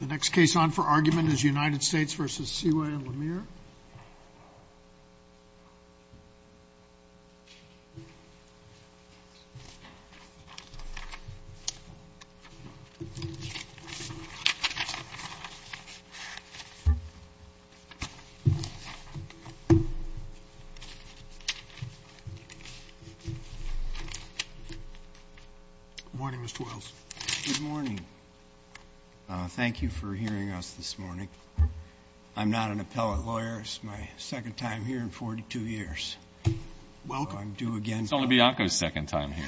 The next case on for argument is United States v. Seway and Lemire. Good morning, Mr. Wells. Good morning. Thank you for hearing us this morning. I'm not an appellate lawyer. It's my second time here in 42 years. Welcome. I'm due again. It's only Bianco's second time here.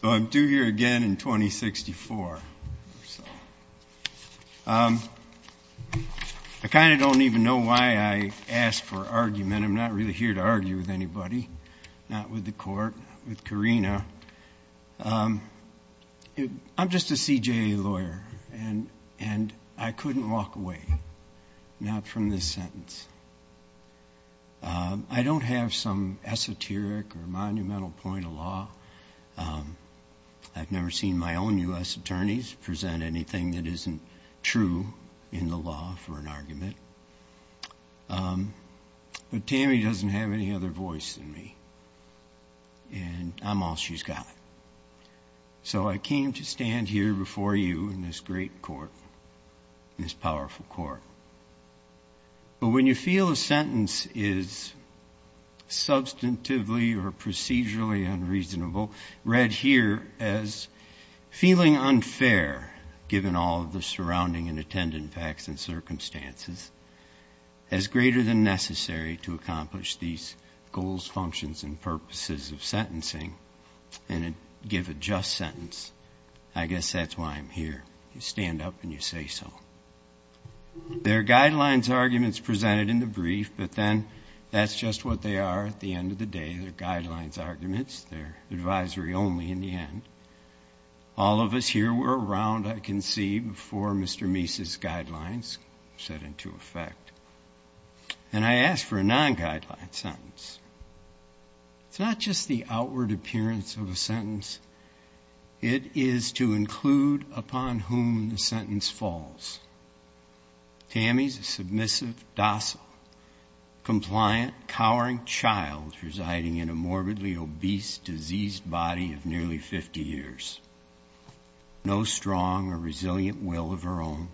So I'm due here again in 2064. I kind of don't even know why I asked for argument. I'm not really here to argue with anybody, not with the court, with Karina. I'm just a CJA lawyer, and I couldn't walk away, not from this sentence. I don't have some esoteric or monumental point of law. I've never seen my own U.S. attorneys present anything that isn't true in the law for an argument. But Tammy doesn't have any other voice than me, and I'm all she's got. So I came to stand here before you in this great court, this powerful court. But when you feel a sentence is substantively or procedurally unreasonable, read here as feeling unfair, given all of the surrounding and attendant facts and circumstances, as greater than necessary to accomplish these goals, functions, and purposes of sentencing, and give a just sentence, I guess that's why I'm here. You stand up and you say so. There are guidelines arguments presented in the brief, but then that's just what they are at the end of the day. They're guidelines arguments. They're advisory only in the end. All of us here were around, I can see, before Mr. Meese's guidelines set into effect, and I asked for a non-guideline sentence. It's not just the outward appearance of a sentence. It is to include upon whom the sentence falls. Tammy's a submissive, docile, compliant, cowering child residing in a morbidly obese, diseased body of nearly 50 years. No strong or resilient will of her own.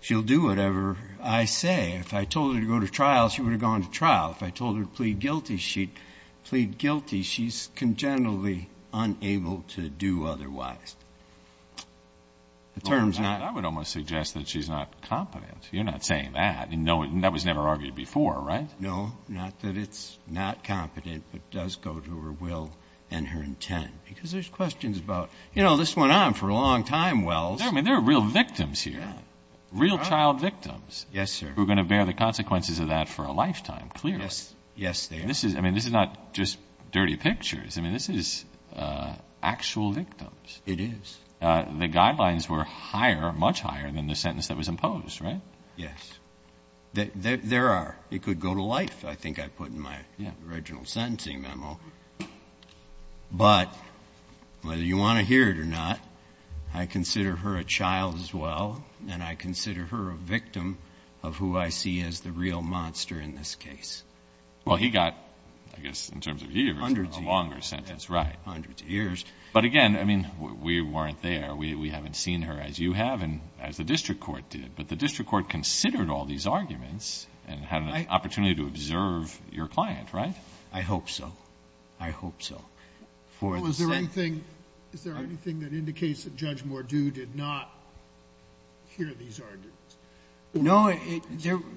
She'll do whatever I say. If I told her to go to trial, she would have gone to trial. If I told her to plead guilty, she'd plead guilty. She's congenitally unable to do otherwise. The term's not. I would almost suggest that she's not competent. You're not saying that. That was never argued before, right? No. Not that it's not competent, but does go to her will and her intent. Because there's questions about, you know, this went on for a long time, Wells. I mean, there are real victims here, real child victims. Yes, sir. Who are going to bear the consequences of that for a lifetime, clearly. Yes, they are. I mean, this is not just dirty pictures. I mean, this is actual victims. It is. The guidelines were higher, much higher, than the sentence that was imposed, right? Yes. There are. It could go to life, I think I put in my original sentencing memo. But whether you want to hear it or not, I consider her a child as well, and I consider her a victim of who I see as the real monster in this case. Well, he got, I guess, in terms of years, a longer sentence. Hundreds of years. Right. Hundreds of years. But, again, I mean, we weren't there. We haven't seen her as you have and as the district court did. But the district court considered all these arguments and had an opportunity to observe your client, right? I hope so. I hope so. Was there anything that indicates that Judge Mordew did not hear these arguments? No.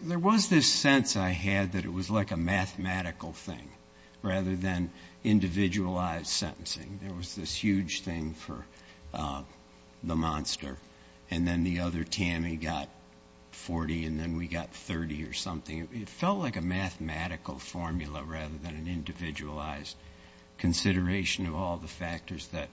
There was this sense I had that it was like a mathematical thing rather than individualized sentencing. There was this huge thing for the monster, and then the other Tammy got 40 and then we got 30 or something. It felt like a mathematical formula rather than an individualized consideration of all the factors that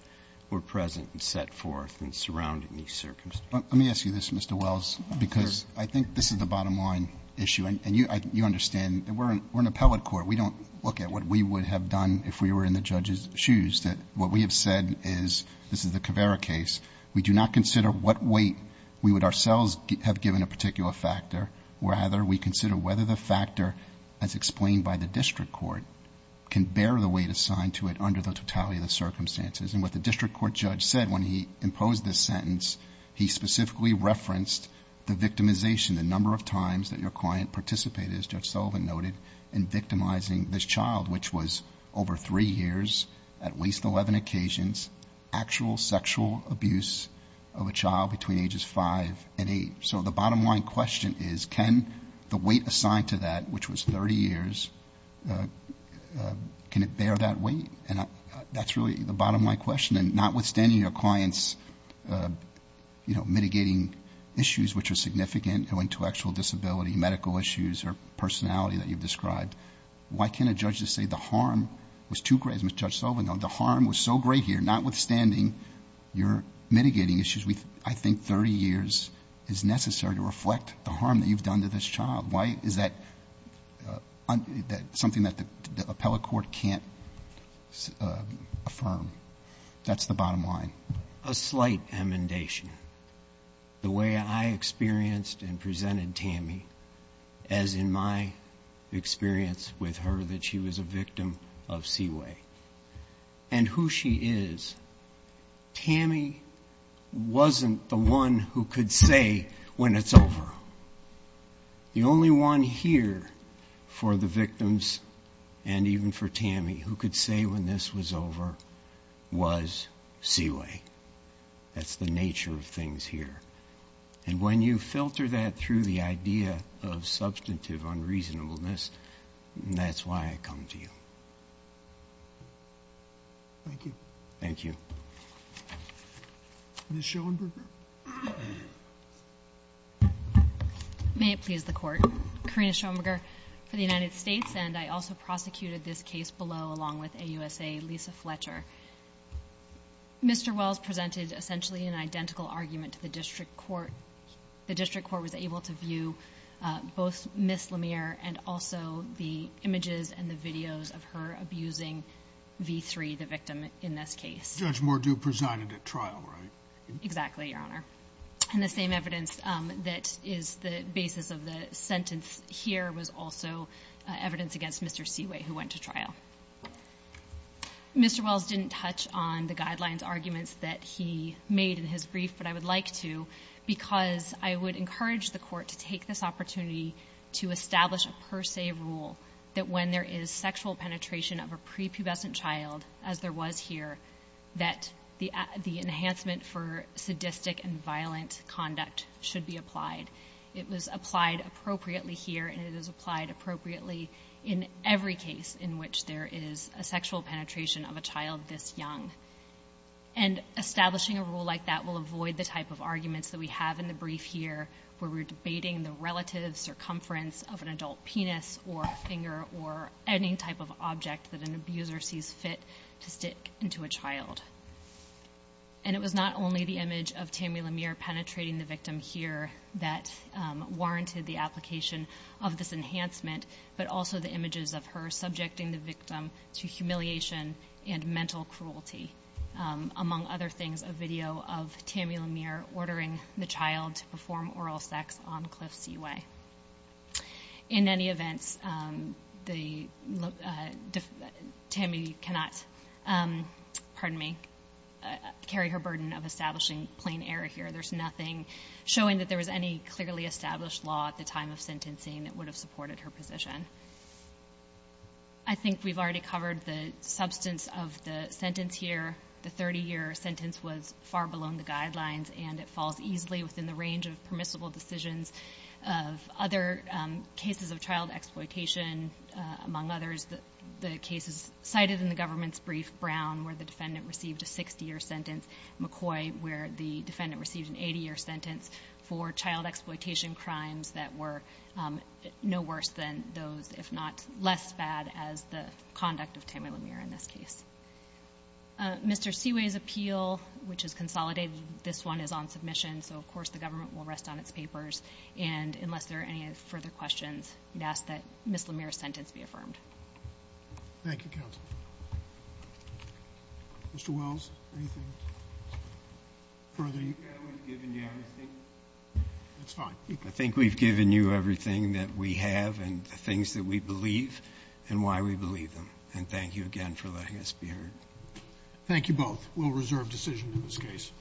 were present and set forth and surrounding these circumstances. Let me ask you this, Mr. Wells, because I think this is the bottom line issue, and you understand that we're an appellate court. We don't look at what we would have done if we were in the judge's shoes. What we have said is, this is the Caveira case, we do not consider what weight we would ourselves have given a particular factor. Rather, we consider whether the factor as explained by the district court can bear the weight assigned to it under the totality of the circumstances. And what the district court judge said when he imposed this sentence, he specifically referenced the victimization, the number of times that your client participated, as Judge Sullivan noted, in victimizing this child, which was over three years, at least 11 occasions, actual sexual abuse of a child between ages 5 and 8. So the bottom line question is, can the weight assigned to that, which was 30 years, can it bear that weight? And that's really the bottom line question, and notwithstanding your client's mitigating issues, which are significant, intellectual disability, medical issues, or personality that you've described, why can't a judge just say the harm was too great, as Judge Sullivan noted, the harm was so great here, notwithstanding your mitigating issues, I think 30 years is necessary to reflect the harm that you've done to this child. Why is that something that the appellate court can't affirm? That's the bottom line. A slight amendation. The way I experienced and presented Tammy, as in my experience with her that she was a victim of Seaway, and who she is, Tammy wasn't the one who could say when it's over. The only one here for the victims, and even for Tammy, who could say when this was over was Seaway. That's the nature of things here. And when you filter that through the idea of substantive unreasonableness, that's why I come to you. Thank you. Thank you. Ms. Schoenberger. May it please the Court. Karina Schoenberger for the United States, and I also prosecuted this case below along with AUSA Lisa Fletcher. Mr. Wells presented essentially an identical argument to the district court. The district court was able to view both Ms. Lemire and also the images and the videos of her abusing V3, the victim in this case. Judge Mordew presided at trial, right? Exactly, Your Honor. And the same evidence that is the basis of the sentence here was also evidence against Mr. Seaway, who went to trial. Mr. Wells didn't touch on the guidelines arguments that he made in his brief, but I would like to because I would encourage the Court to take this opportunity to establish a per se rule that when there is sexual penetration of a prepubescent child, as there was here, that the enhancement for sadistic and violent conduct should be applied. It was applied appropriately here, and it is applied appropriately in every case in which there is a sexual penetration of a child this young. And establishing a rule like that will avoid the type of arguments that we have in the brief here where we're debating the relative circumference of an adult penis or a finger or any type of object that an abuser sees fit to stick into a child. And it was not only the image of Tammy Lemire penetrating the victim here that warranted the application of this enhancement, but also the images of her subjecting the victim to humiliation and mental cruelty, among other things a video of Tammy Lemire ordering the child to perform oral sex on Cliff Seaway. In any event, Tammy cannot carry her burden of establishing plain error here. There's nothing showing that there was any clearly established law at the time of sentencing that would have supported her position. I think we've already covered the substance of the sentence here. The 30-year sentence was far below the guidelines, and it falls easily within the range of permissible decisions of other cases of child exploitation. Among others, the cases cited in the government's brief, Brown, where the defendant received a 60-year sentence, McCoy, where the defendant received an 80-year sentence for child exploitation crimes that were no worse than those, if not less bad, as the conduct of Tammy Lemire in this case. Mr. Seaway's appeal, which is consolidated, this one is on submission, so of course the government will rest on its papers. And unless there are any further questions, I'd ask that Ms. Lemire's sentence be affirmed. Thank you, counsel. Mr. Wells, anything further? I would have given you everything. That's fine. I think we've given you everything that we have and the things that we believe and why we believe them. And thank you again for letting us be heard. Thank you both. We'll reserve decision in this case.